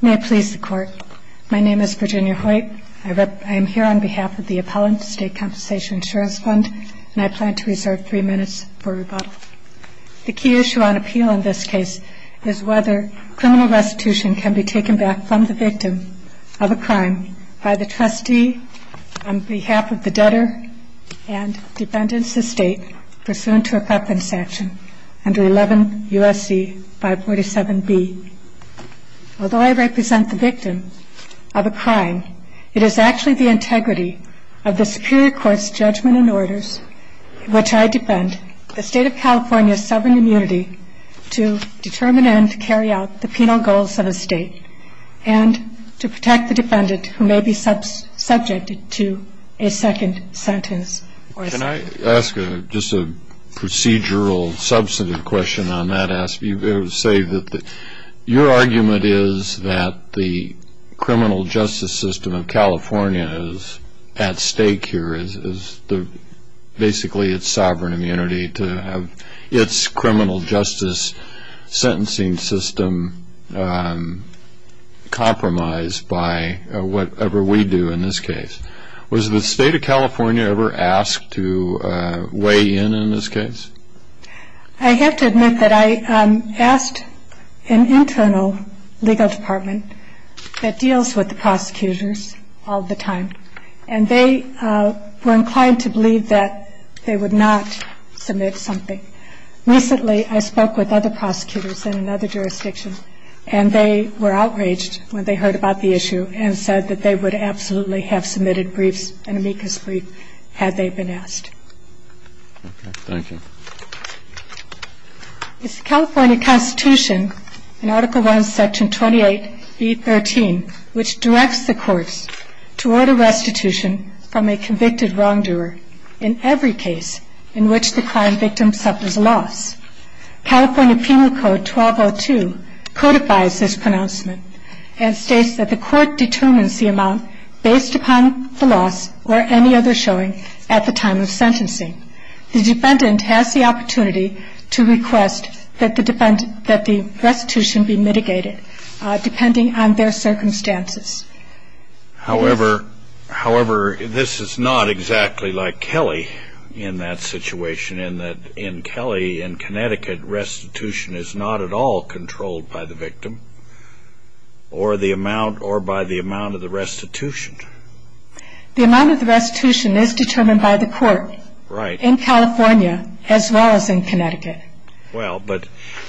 May it please the Court. My name is Virginia Hoyt. I am here on behalf of the Appellant State Compensation Insurance Fund, and I plan to reserve three minutes for rebuttal. The key issue on appeal in this case is whether criminal restitution can be taken back from the victim of a crime by the trustee on behalf of the debtor and the defendant's estate pursuant to a preference action under 11 U.S.C. 547B. Although I represent the victim of a crime, it is actually the integrity of the Superior Court's judgment and orders in which I defend the State of California's sovereign immunity to determine and carry out the penal goals of a state and to protect the defendant who may be subject to a second sentence. Can I ask just a procedural, substantive question on that? You say that your argument is that the criminal justice system of California is at stake here, is basically its sovereign immunity to have its criminal justice sentencing system compromised by whatever we do in this case. Was the State of California ever asked to weigh in in this case? I have to admit that I asked an internal legal department that deals with the prosecutors all the time, and they were inclined to believe that they would not submit something. Recently, I spoke with other prosecutors in another jurisdiction, and they were outraged when they heard about the issue and said that they would absolutely have submitted briefs, an amicus brief, had they been asked. absolutely have submitted briefs, an amicus brief, had they been asked. Is the California Constitution in Article I, Section 28B.13, which directs the courts to order restitution from a convicted wrongdoer in every case in which the crime has been committed? And the reason for that is that the defendant has the opportunity to request that the restitution be mitigated, depending on their circumstances. However, this is not exactly like Kelly in that situation, in that in Kelly, in Connecticut, restitution is not at all controlled by the victim or by the amount of the restitution. The amount of the restitution is determined by the court in California as well as in Connecticut. Well, but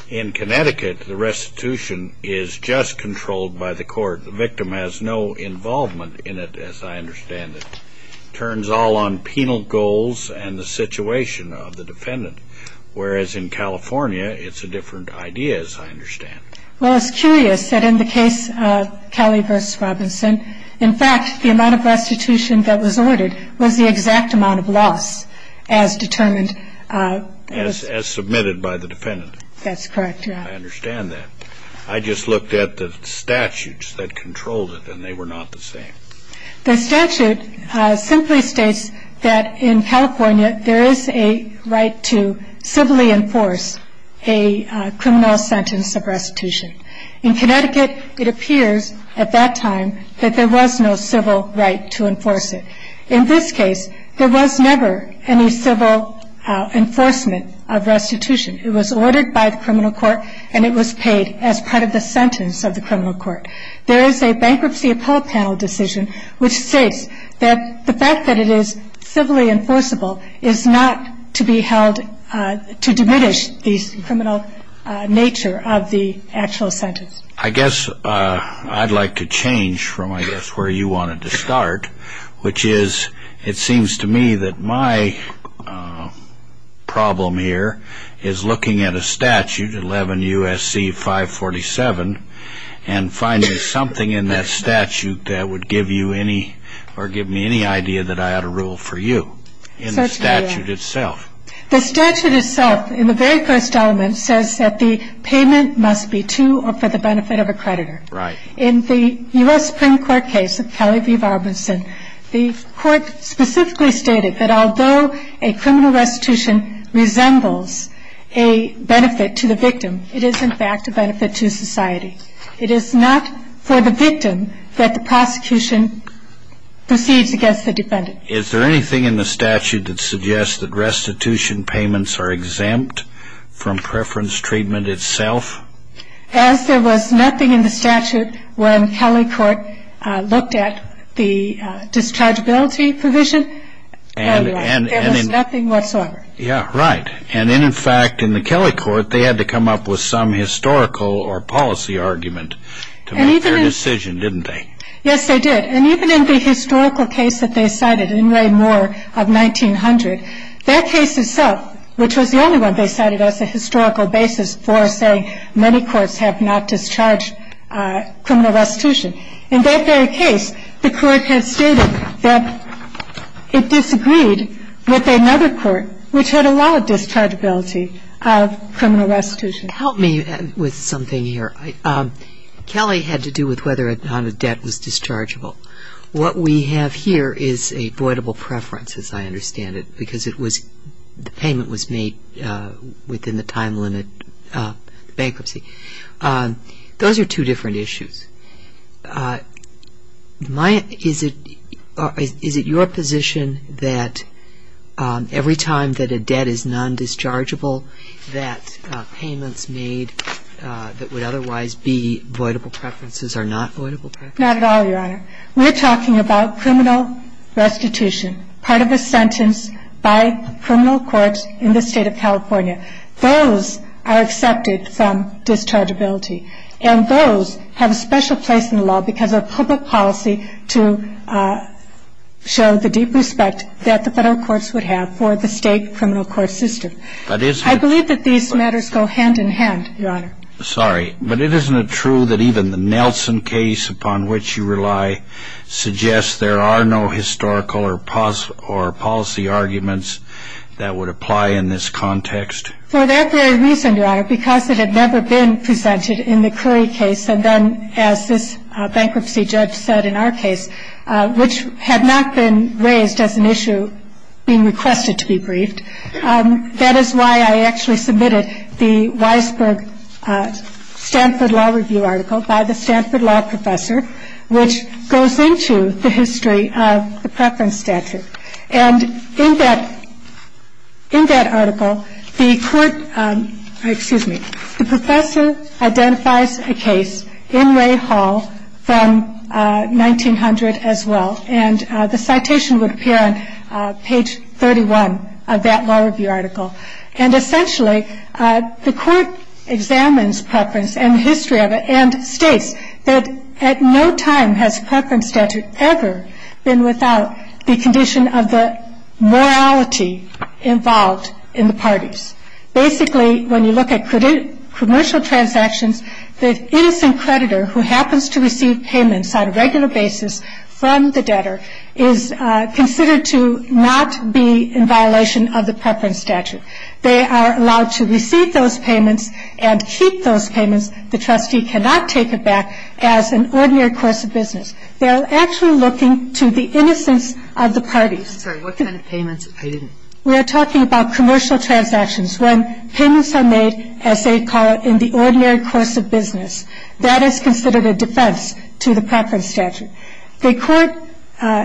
in Connecticut, the restitution is just controlled by the court. The victim has no involvement in it, as I understand it. It turns all on penal goals and the situation of the defendant, whereas in California, it's a different idea, as I understand it. Well, it's curious that in the case of Kelly v. Robinson, in fact, the amount of restitution that was ordered was the exact amount of loss as determined as submitted by the defendant. That's correct, Your Honor. I understand that. I just looked at the statutes that controlled it, and they were not the same. The statute simply states that in California, there is a right to civilly enforce a criminal sentence of restitution. In Connecticut, it appears at that time that there was no civil right to enforce it. In this case, there was never any civil enforcement of restitution. It was ordered by the criminal court, and it was paid as part of the sentence of the criminal court. There is a Bankruptcy Appellate Panel decision which states that the fact that it is civilly enforceable is not to be held to diminish the criminal nature of the actual sentence. I guess I'd like to change from, I guess, where you wanted to start, which is it seems to me that my problem here is looking at a statute, 11 U.S.C. 547, and finding something in that statute that would give you any or give me any idea that I ought to rule for you in the statute itself. The statute itself, in the very first element, says that the payment must be to or for the benefit of a creditor. Right. In the U.S. Supreme Court case of Kelly v. Robinson, the court specifically stated that although a criminal restitution resembles a benefit to the victim, it is, in fact, a benefit to society. It is not for the victim that the prosecution proceeds against the defendant. Is there anything in the statute that suggests that restitution payments are exempt from preference treatment itself? As there was nothing in the statute when Kelly Court looked at the dischargeability provision, there was nothing whatsoever. Yeah, right. And then, in fact, in the Kelly Court, they had to come up with some historical or policy argument to make their decision, didn't they? Yes, they did. And even in the historical case that they cited in Ray Moore of 1900, that case itself, which was the only one they cited as a historical basis for saying many courts have not discharged criminal restitution, in that very case, the Court had stated that it disagreed with another court, which had a law of dischargeability of criminal restitution. Help me with something here. Kelly had to do with whether or not a debt was dischargeable. What we have here is a voidable preference, as I understand it, because the payment was made within the time limit of bankruptcy. Those are two different issues. Is it your position that every time that a debt is non-dischargeable, that payments made that would otherwise be voidable preferences are not voidable preferences? Not at all, Your Honor. We're talking about criminal restitution, part of a sentence by criminal courts in the State of California. Those are accepted from dischargeability. And those have a special place in the law because of public policy to show the deep respect that the Federal courts would have for the State criminal court system. I believe that these matters go hand in hand, Your Honor. Sorry, but isn't it true that even the Nelson case upon which you rely suggests there are no historical or policy arguments that would apply in this context? For that very reason, Your Honor, because it had never been presented in the Curry case, and then as this bankruptcy judge said in our case, which had not been raised as an issue being requested to be briefed, that is why I actually submitted the Weisberg Stanford Law Review article by the Stanford Law Professor, which goes into the history of the preference statute. And in that article, the professor identifies a case in Ray Hall from 1900 as well. And the citation would appear on page 31 of that law review article. And essentially, the court examines preference and the history of it and states that at no time has preference statute ever been without the condition of the morality involved in the parties. Basically, when you look at commercial transactions, the innocent creditor who happens to receive payments on a regular basis from the debtor is considered to not be in violation of the preference statute. They are allowed to receive those payments and keep those payments. The trustee cannot take it back as an ordinary course of business. They are actually looking to the innocence of the parties. I'm sorry. What kind of payments? We are talking about commercial transactions when payments are made, as they call it, in the ordinary course of business. That is considered a defense to the preference statute. The court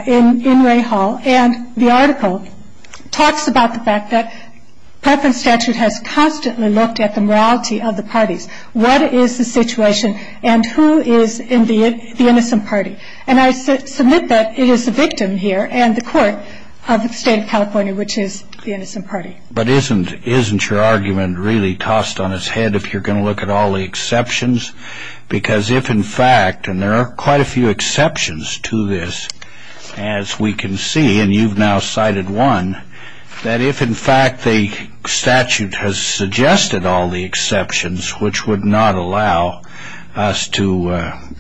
in Ray Hall and the article talks about the fact that preference statute has constantly looked at the morality of the parties. What is the situation and who is in the innocent party? And I submit that it is the victim here and the court of the State of California, which is the innocent party. But isn't your argument really tossed on its head if you're going to look at all the exceptions because if, in fact, and there are quite a few exceptions to this, as we can see, and you've now cited one, that if, in fact, the statute has suggested all the exceptions, which would not allow us to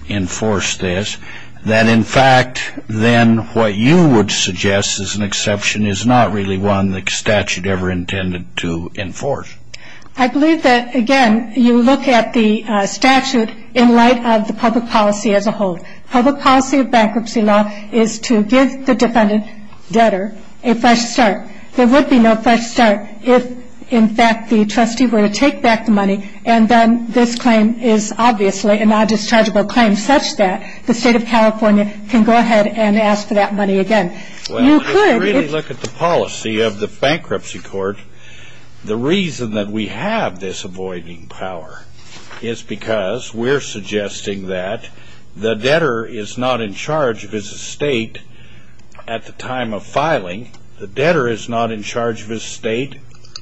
enforce this, that, in fact, then what you would suggest as an exception is not really one the statute ever intended to enforce. I believe that, again, you look at the statute in light of the public policy as a whole. Public policy of bankruptcy law is to give the defendant debtor a fresh start. There would be no fresh start if, in fact, the trustee were to take back the money and then this claim is obviously a non-dischargeable claim such that the State of California can go ahead and ask for that money again. Well, if you really look at the policy of the bankruptcy court, the reason that we have this avoiding power is because we're suggesting that the debtor is not in charge of his estate at the time of filing. The debtor is not in charge of his estate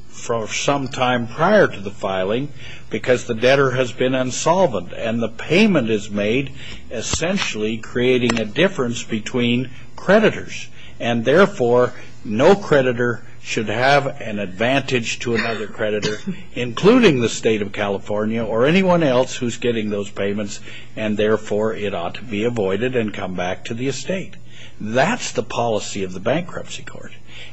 for some time prior to the filing because the debtor has been unsolvent and the payment is made essentially creating a difference between creditors and, therefore, no creditor should have an advantage to another creditor, including the State of California or anyone else who's getting those payments and, therefore, it ought to be avoided and come back to the estate. That's the policy of the bankruptcy court,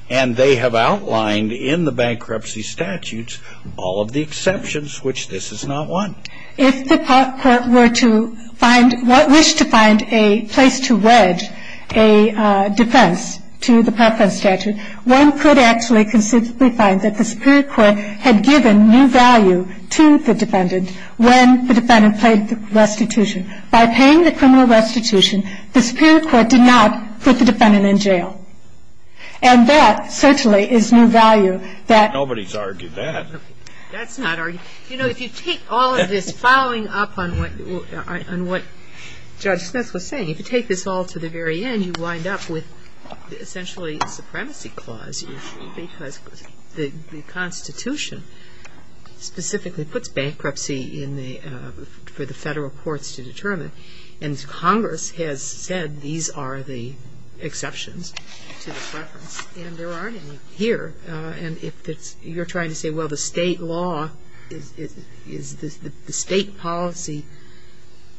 and they have outlined in the bankruptcy statutes all of the exceptions, which this is not one. If the court were to find or wish to find a place to wedge a defense to the Parkland statute, one could actually conceivably find that the superior court had given new value to the defendant when the defendant paid the restitution. By paying the criminal restitution, the superior court did not put the defendant in jail, and that certainly is new value that no one has argued. That's not argued. You know, if you take all of this following up on what Judge Smith was saying, if you take this all to the very end, you wind up with essentially a supremacy clause issue because the Constitution specifically puts bankruptcy for the Federal courts to determine, and Congress has said these are the exceptions to the preference, and there aren't any here. And if you're trying to say, well, the State law is the State policy,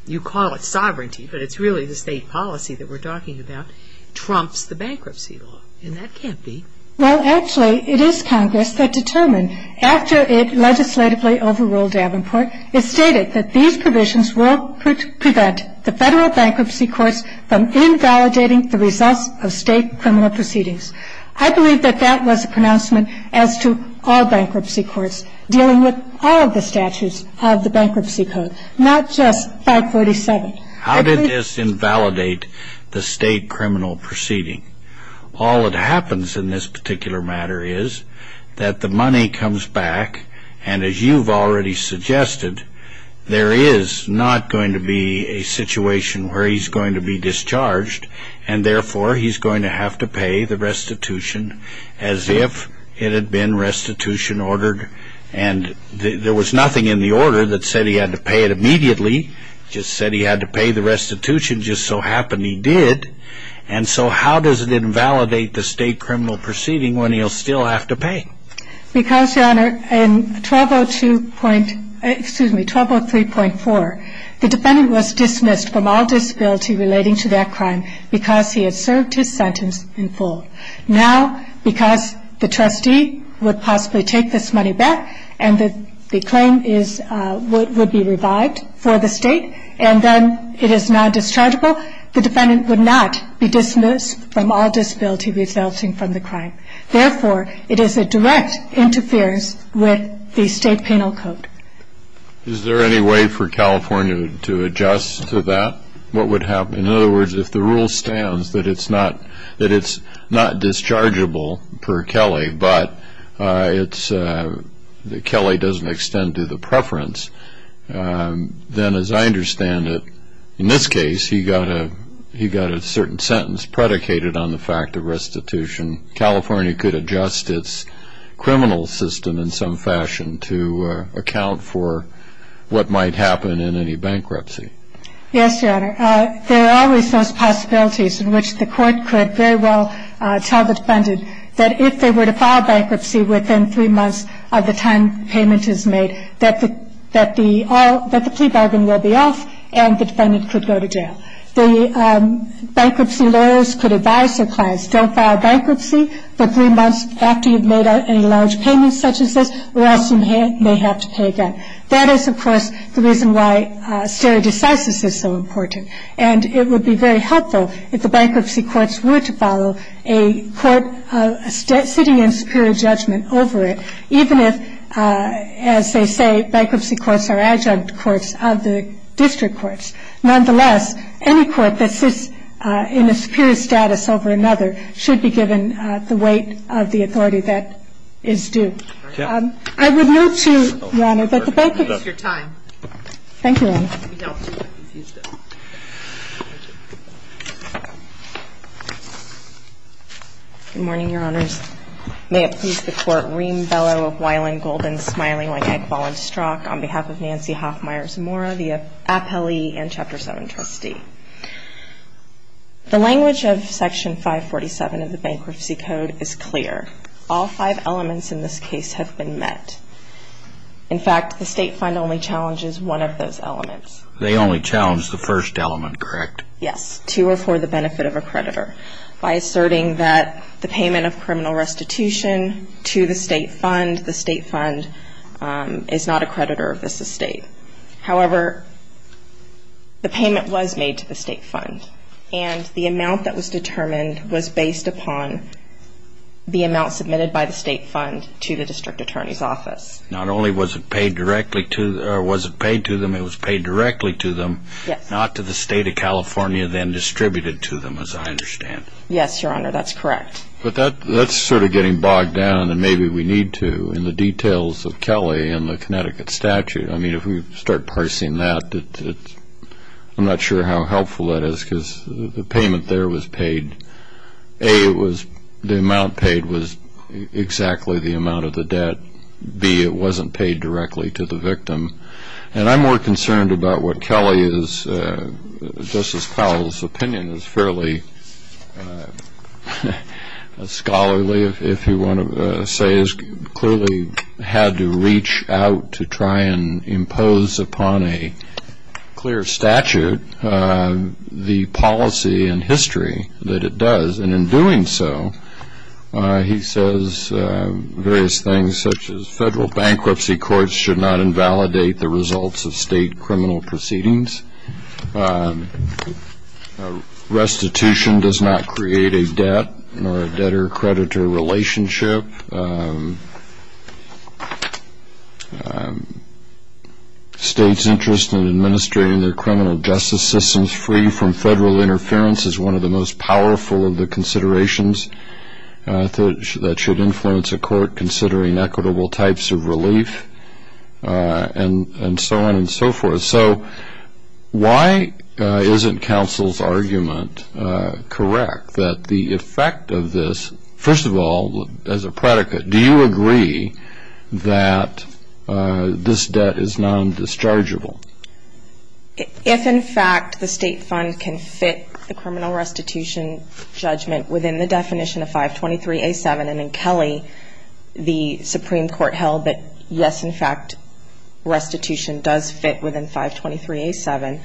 you call it sovereignty, but it's really the State policy that we're talking about, trumps the bankruptcy law, and that can't be. Well, actually, it is Congress that determined, after it legislatively overruled Davenport, it stated that these provisions will prevent the Federal bankruptcy courts from invalidating the results of State criminal proceedings. I believe that that was a pronouncement as to all bankruptcy courts, dealing with all of the statutes of the Bankruptcy Code, not just 547. I believe that this invalidates the State criminal proceeding. All that happens in this particular matter is that the money comes back, and as you've already suggested, there is not going to be a situation where he's going to be discharged, and therefore, he's going to have to pay the restitution as if it had been restitution ordered. And there was nothing in the order that said he had to pay it immediately. It just said he had to pay the restitution, just so happened he did. And so how does it invalidate the State criminal proceeding when he'll still have to pay? Because, Your Honor, in 1202. Excuse me, 1203.4, the defendant was dismissed from all disability relating to that crime, because he had served his sentence in full. Now, because the trustee would possibly take this money back, and the claim is what would be revived for the State, and then it is non-dischargeable, the defendant would not be dismissed from all disability resulting from the crime. Therefore, it is a direct interference with the State penal code. Is there any way for California to adjust to that? What would happen? In other words, if the rule stands that it's not dischargeable per Kelley, but Kelley doesn't extend to the preference, then as I understand it, in this case he got a certain sentence predicated on the fact of restitution. California could adjust its criminal system in some fashion to account for what might happen in any bankruptcy. Yes, Your Honor. There are always those possibilities in which the court could very well tell the defendant that if they were to file bankruptcy within three months of the time payment is made, that the plea bargain will be off and the defendant could go to jail. The bankruptcy lawyers could advise their clients, don't file bankruptcy for three months after you've made a large payment such as this, or else you may have to pay again. That is, of course, the reason why stare decisis is so important. And it would be very helpful if the bankruptcy courts were to follow a court sitting in superior judgment over it, even if, as they say, bankruptcy courts are adjunct courts of the district courts. Nonetheless, any court that sits in a superior status over another should be given the weight of the authority that is due. Thank you. I would move to, Your Honor, that the bankruptcy. Thank you, Your Honor. Good morning, Your Honors. May it please the Court. Reem Bellow, Weiland, Golden, Smiley, Wang, Eggball, and Strzok, on behalf of Nancy Hoffmeier Zamora, the appellee and Chapter 7 trustee. The language of Section 547 of the Bankruptcy Code is clear. All five elements in this case have been met. In fact, the state fund only challenges one of those elements. They only challenge the first element, correct? Yes, to or for the benefit of a creditor. By asserting that the payment of criminal restitution to the state fund, the state fund is not a creditor of this estate. However, the payment was made to the state fund, and the amount that was determined was based upon the amount submitted by the state fund to the district attorney's office. Not only was it paid directly to them, it was paid directly to them, not to the state of California, then distributed to them, as I understand. Yes, Your Honor, that's correct. But that's sort of getting bogged down and maybe we need to in the details of Kelly and the Connecticut statute. I mean, if we start parsing that, I'm not sure how helpful that is because the payment there was paid. A, the amount paid was exactly the amount of the debt. B, it wasn't paid directly to the victim. And I'm more concerned about what Kelly is, Justice Powell's opinion is fairly scholarly, if you want to say, is clearly had to reach out to try and impose upon a clear statute the policy and history that it does. And in doing so, he says various things such as federal bankruptcy courts should not invalidate the results of state criminal proceedings. Restitution does not create a debt or a debtor-creditor relationship. States' interest in administrating their criminal justice systems free from federal interference is one of the most powerful of the considerations that should influence a court considering equitable types of relief and so on and so forth. So why isn't counsel's argument correct that the effect of this, first of all, as a predicate, do you agree that this debt is non-dischargeable? If, in fact, the state fund can fit the criminal restitution judgment within the definition of 523A7, and in Kelly, the Supreme Court held that, yes, in fact, restitution does fit within 523A7,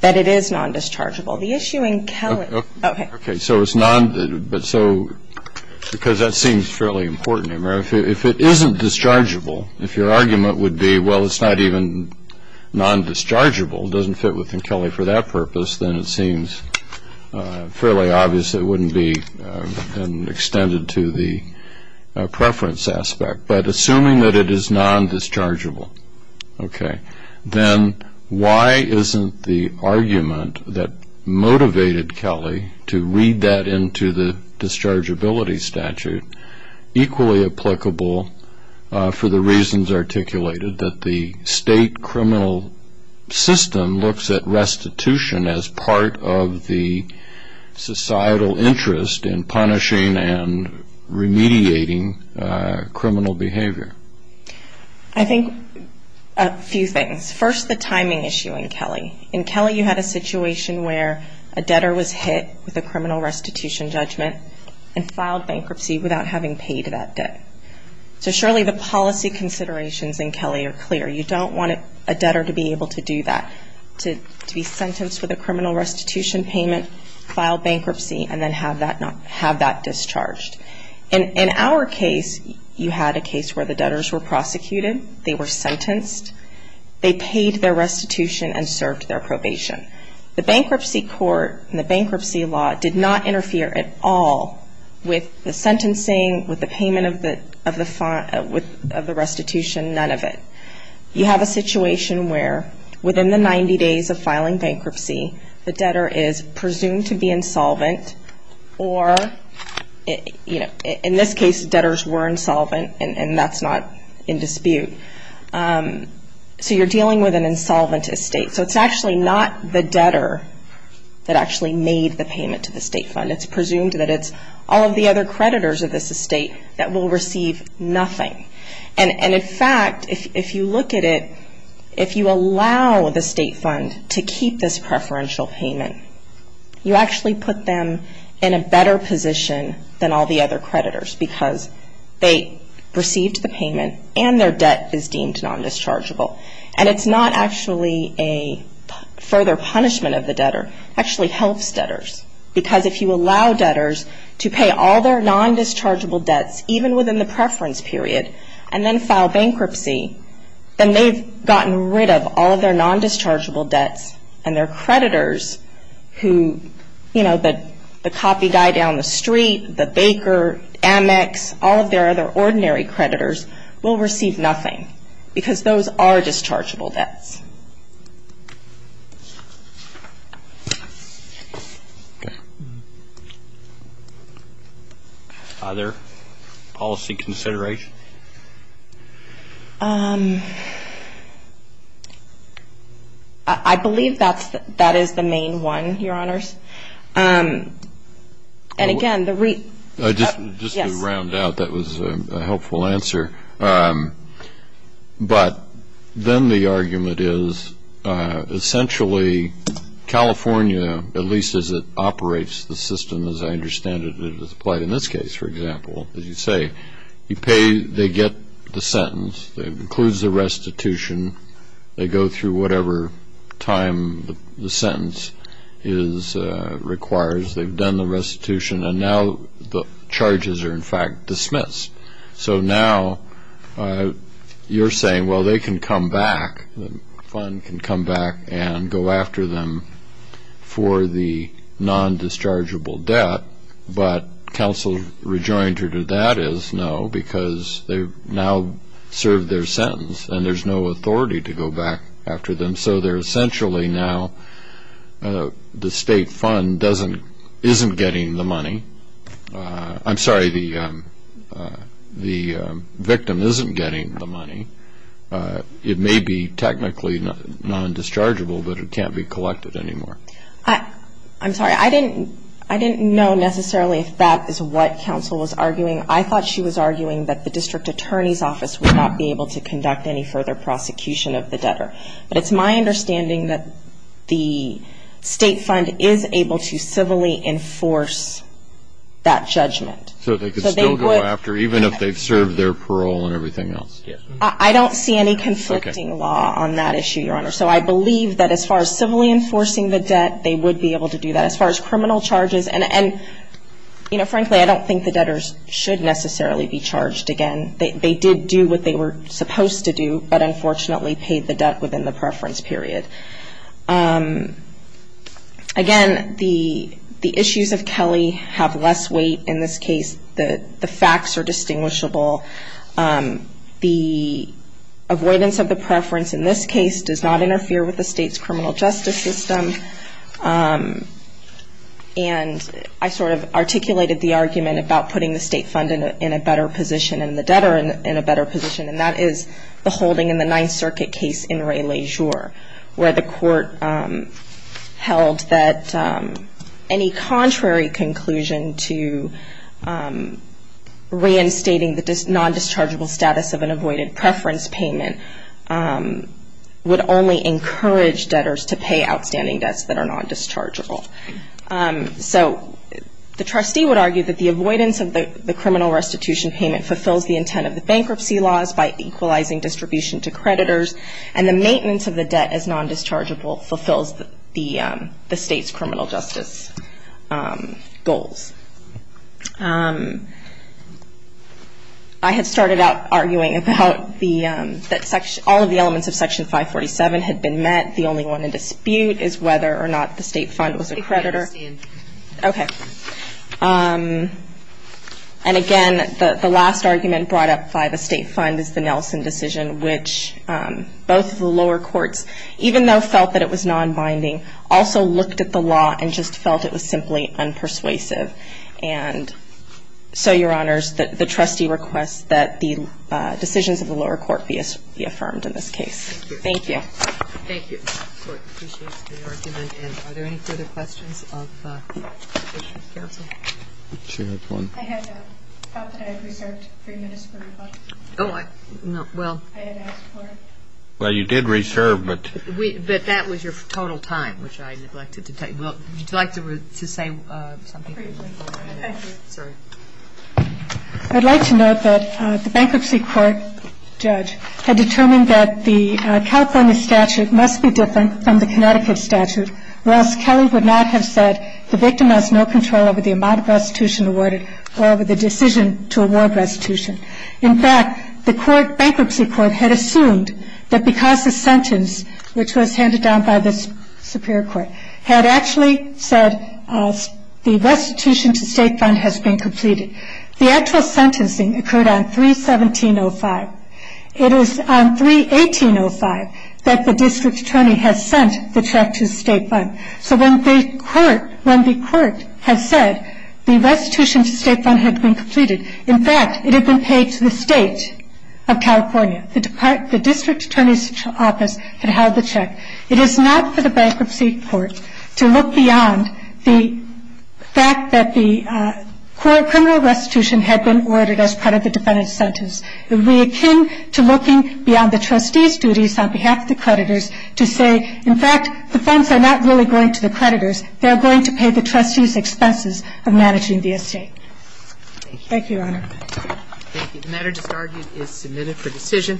that it is non-dischargeable. The issue in Kelly. Okay. Okay. So it's non-dischargeable. Because that seems fairly important. If it isn't dischargeable, if your argument would be, well, it's not even non-dischargeable, it doesn't fit within Kelly for that purpose, then it seems fairly obvious it wouldn't be extended to the preference aspect. But assuming that it is non-dischargeable, okay, then why isn't the argument that motivated Kelly to read that into the dischargeability statute equally applicable for the reasons articulated, that the state criminal system looks at restitution as part of the societal interest in punishing and remediating criminal behavior? I think a few things. First, the timing issue in Kelly. In Kelly, you had a situation where a debtor was hit with a criminal restitution judgment and filed bankruptcy without having paid that debt. So surely the policy considerations in Kelly are clear. You don't want a debtor to be able to do that, to be sentenced with a criminal restitution payment, file bankruptcy, and then have that discharged. In our case, you had a case where the debtors were prosecuted, they were sentenced, they paid their restitution and served their probation. The bankruptcy court and the bankruptcy law did not interfere at all with the sentencing, with the payment of the restitution, none of it. You have a situation where within the 90 days of filing bankruptcy, the debtor is presumed to be insolvent or, in this case, debtors were insolvent, and that's not in dispute. So you're dealing with an insolvent estate. So it's actually not the debtor that actually made the payment to the state fund. It's presumed that it's all of the other creditors of this estate that will receive nothing. And, in fact, if you look at it, if you allow the state fund to keep this preferential payment, you actually put them in a better position than all the other creditors because they received the payment and their debt is deemed non-dischargeable. And it's not actually a further punishment of the debtor. It actually helps debtors because if you allow debtors to pay all their non-dischargeable debts, even within the preference period, and then file bankruptcy, then they've gotten rid of all of their non-dischargeable debts, and their creditors who, you know, the copy guy down the street, the baker, Amex, all of their other ordinary creditors will receive nothing because those are dischargeable debts. Other policy considerations? I believe that is the main one, Your Honors. And, again, the reason why I'm asking this question is because I don't think that's the answer. Essentially, California, at least as it operates the system as I understand it, as applied in this case, for example, as you say, they get the sentence. It includes the restitution. They go through whatever time the sentence requires. They've done the restitution, and now the charges are, in fact, dismissed. So now you're saying, well, they can come back, the fund can come back and go after them for the non-dischargeable debt, but counsel rejoined her to that is no because they've now served their sentence and there's no authority to go back after them. So they're essentially now the state fund isn't getting the money. I'm sorry, the victim isn't getting the money. It may be technically non-dischargeable, but it can't be collected anymore. I'm sorry. I didn't know necessarily if that is what counsel was arguing. I thought she was arguing that the district attorney's office would not be able to conduct any further prosecution of the debtor. But it's my understanding that the state fund is able to civilly enforce that judgment. So they could still go after, even if they've served their parole and everything else. I don't see any conflicting law on that issue, Your Honor. So I believe that as far as civilly enforcing the debt, they would be able to do that. As far as criminal charges, and, you know, frankly, I don't think the debtors should necessarily be charged again. They did do what they were supposed to do, but unfortunately paid the debt within the preference period. Again, the issues of Kelly have less weight in this case. The facts are distinguishable. The avoidance of the preference in this case does not interfere with the state's criminal justice system. And I sort of articulated the argument about putting the state fund in a better position and the debtor in a better position, and that is the holding in the Ninth Circuit case in Ray LaJour, where the court held that any contrary conclusion to reinstating the non-dischargeable status of an avoided preference payment would only encourage debtors to pay outstanding debts that are non-dischargeable. So the trustee would argue that the avoidance of the criminal restitution payment fulfills the intent of the bankruptcy laws by equalizing distribution to creditors, and the maintenance of the debt as non-dischargeable fulfills the state's criminal justice goals. I had started out arguing about that all of the elements of Section 547 had been met. The only one in dispute is whether or not the state fund was a creditor. Okay. And again, the last argument brought up by the state fund is the Nelson decision, which both of the lower courts, even though felt that it was non-binding, also looked at the law and just felt it was simply unpersuasive. And so, Your Honors, the trustee requests that the decisions of the lower court be affirmed in this case. Thank you. Thank you. Thank you. The court appreciates the argument. And are there any further questions of the Judicial Council? I had thought that I had reserved three minutes for rebuttal. Oh, well. I had asked for it. Well, you did reserve, but. But that was your total time, which I neglected to take. Would you like to say something? Thank you. Sorry. I'd like to note that the bankruptcy court judge had determined that the California statute must be different from the Connecticut statute, or else Kelly would not have said the victim has no control over the amount of restitution awarded or over the decision to award restitution. In fact, the bankruptcy court had assumed that because the sentence, which was handed down by the Superior Court, had actually said the restitution to state fund has been completed. The actual sentencing occurred on 3-1705. It was on 3-1805 that the district attorney had sent the check to the state fund. So when the court had said the restitution to state fund had been completed, in fact, it had been paid to the state of California. The district attorney's office had held the check. It is not for the bankruptcy court to look beyond the fact that the criminal restitution had been ordered as part of the defendant's sentence. It would be akin to looking beyond the trustee's duties on behalf of the creditors to say, in fact, the funds are not really going to the creditors. They're going to pay the trustees' expenses of managing the estate. Thank you, Your Honor. Thank you. The matter just argued is submitted for decision.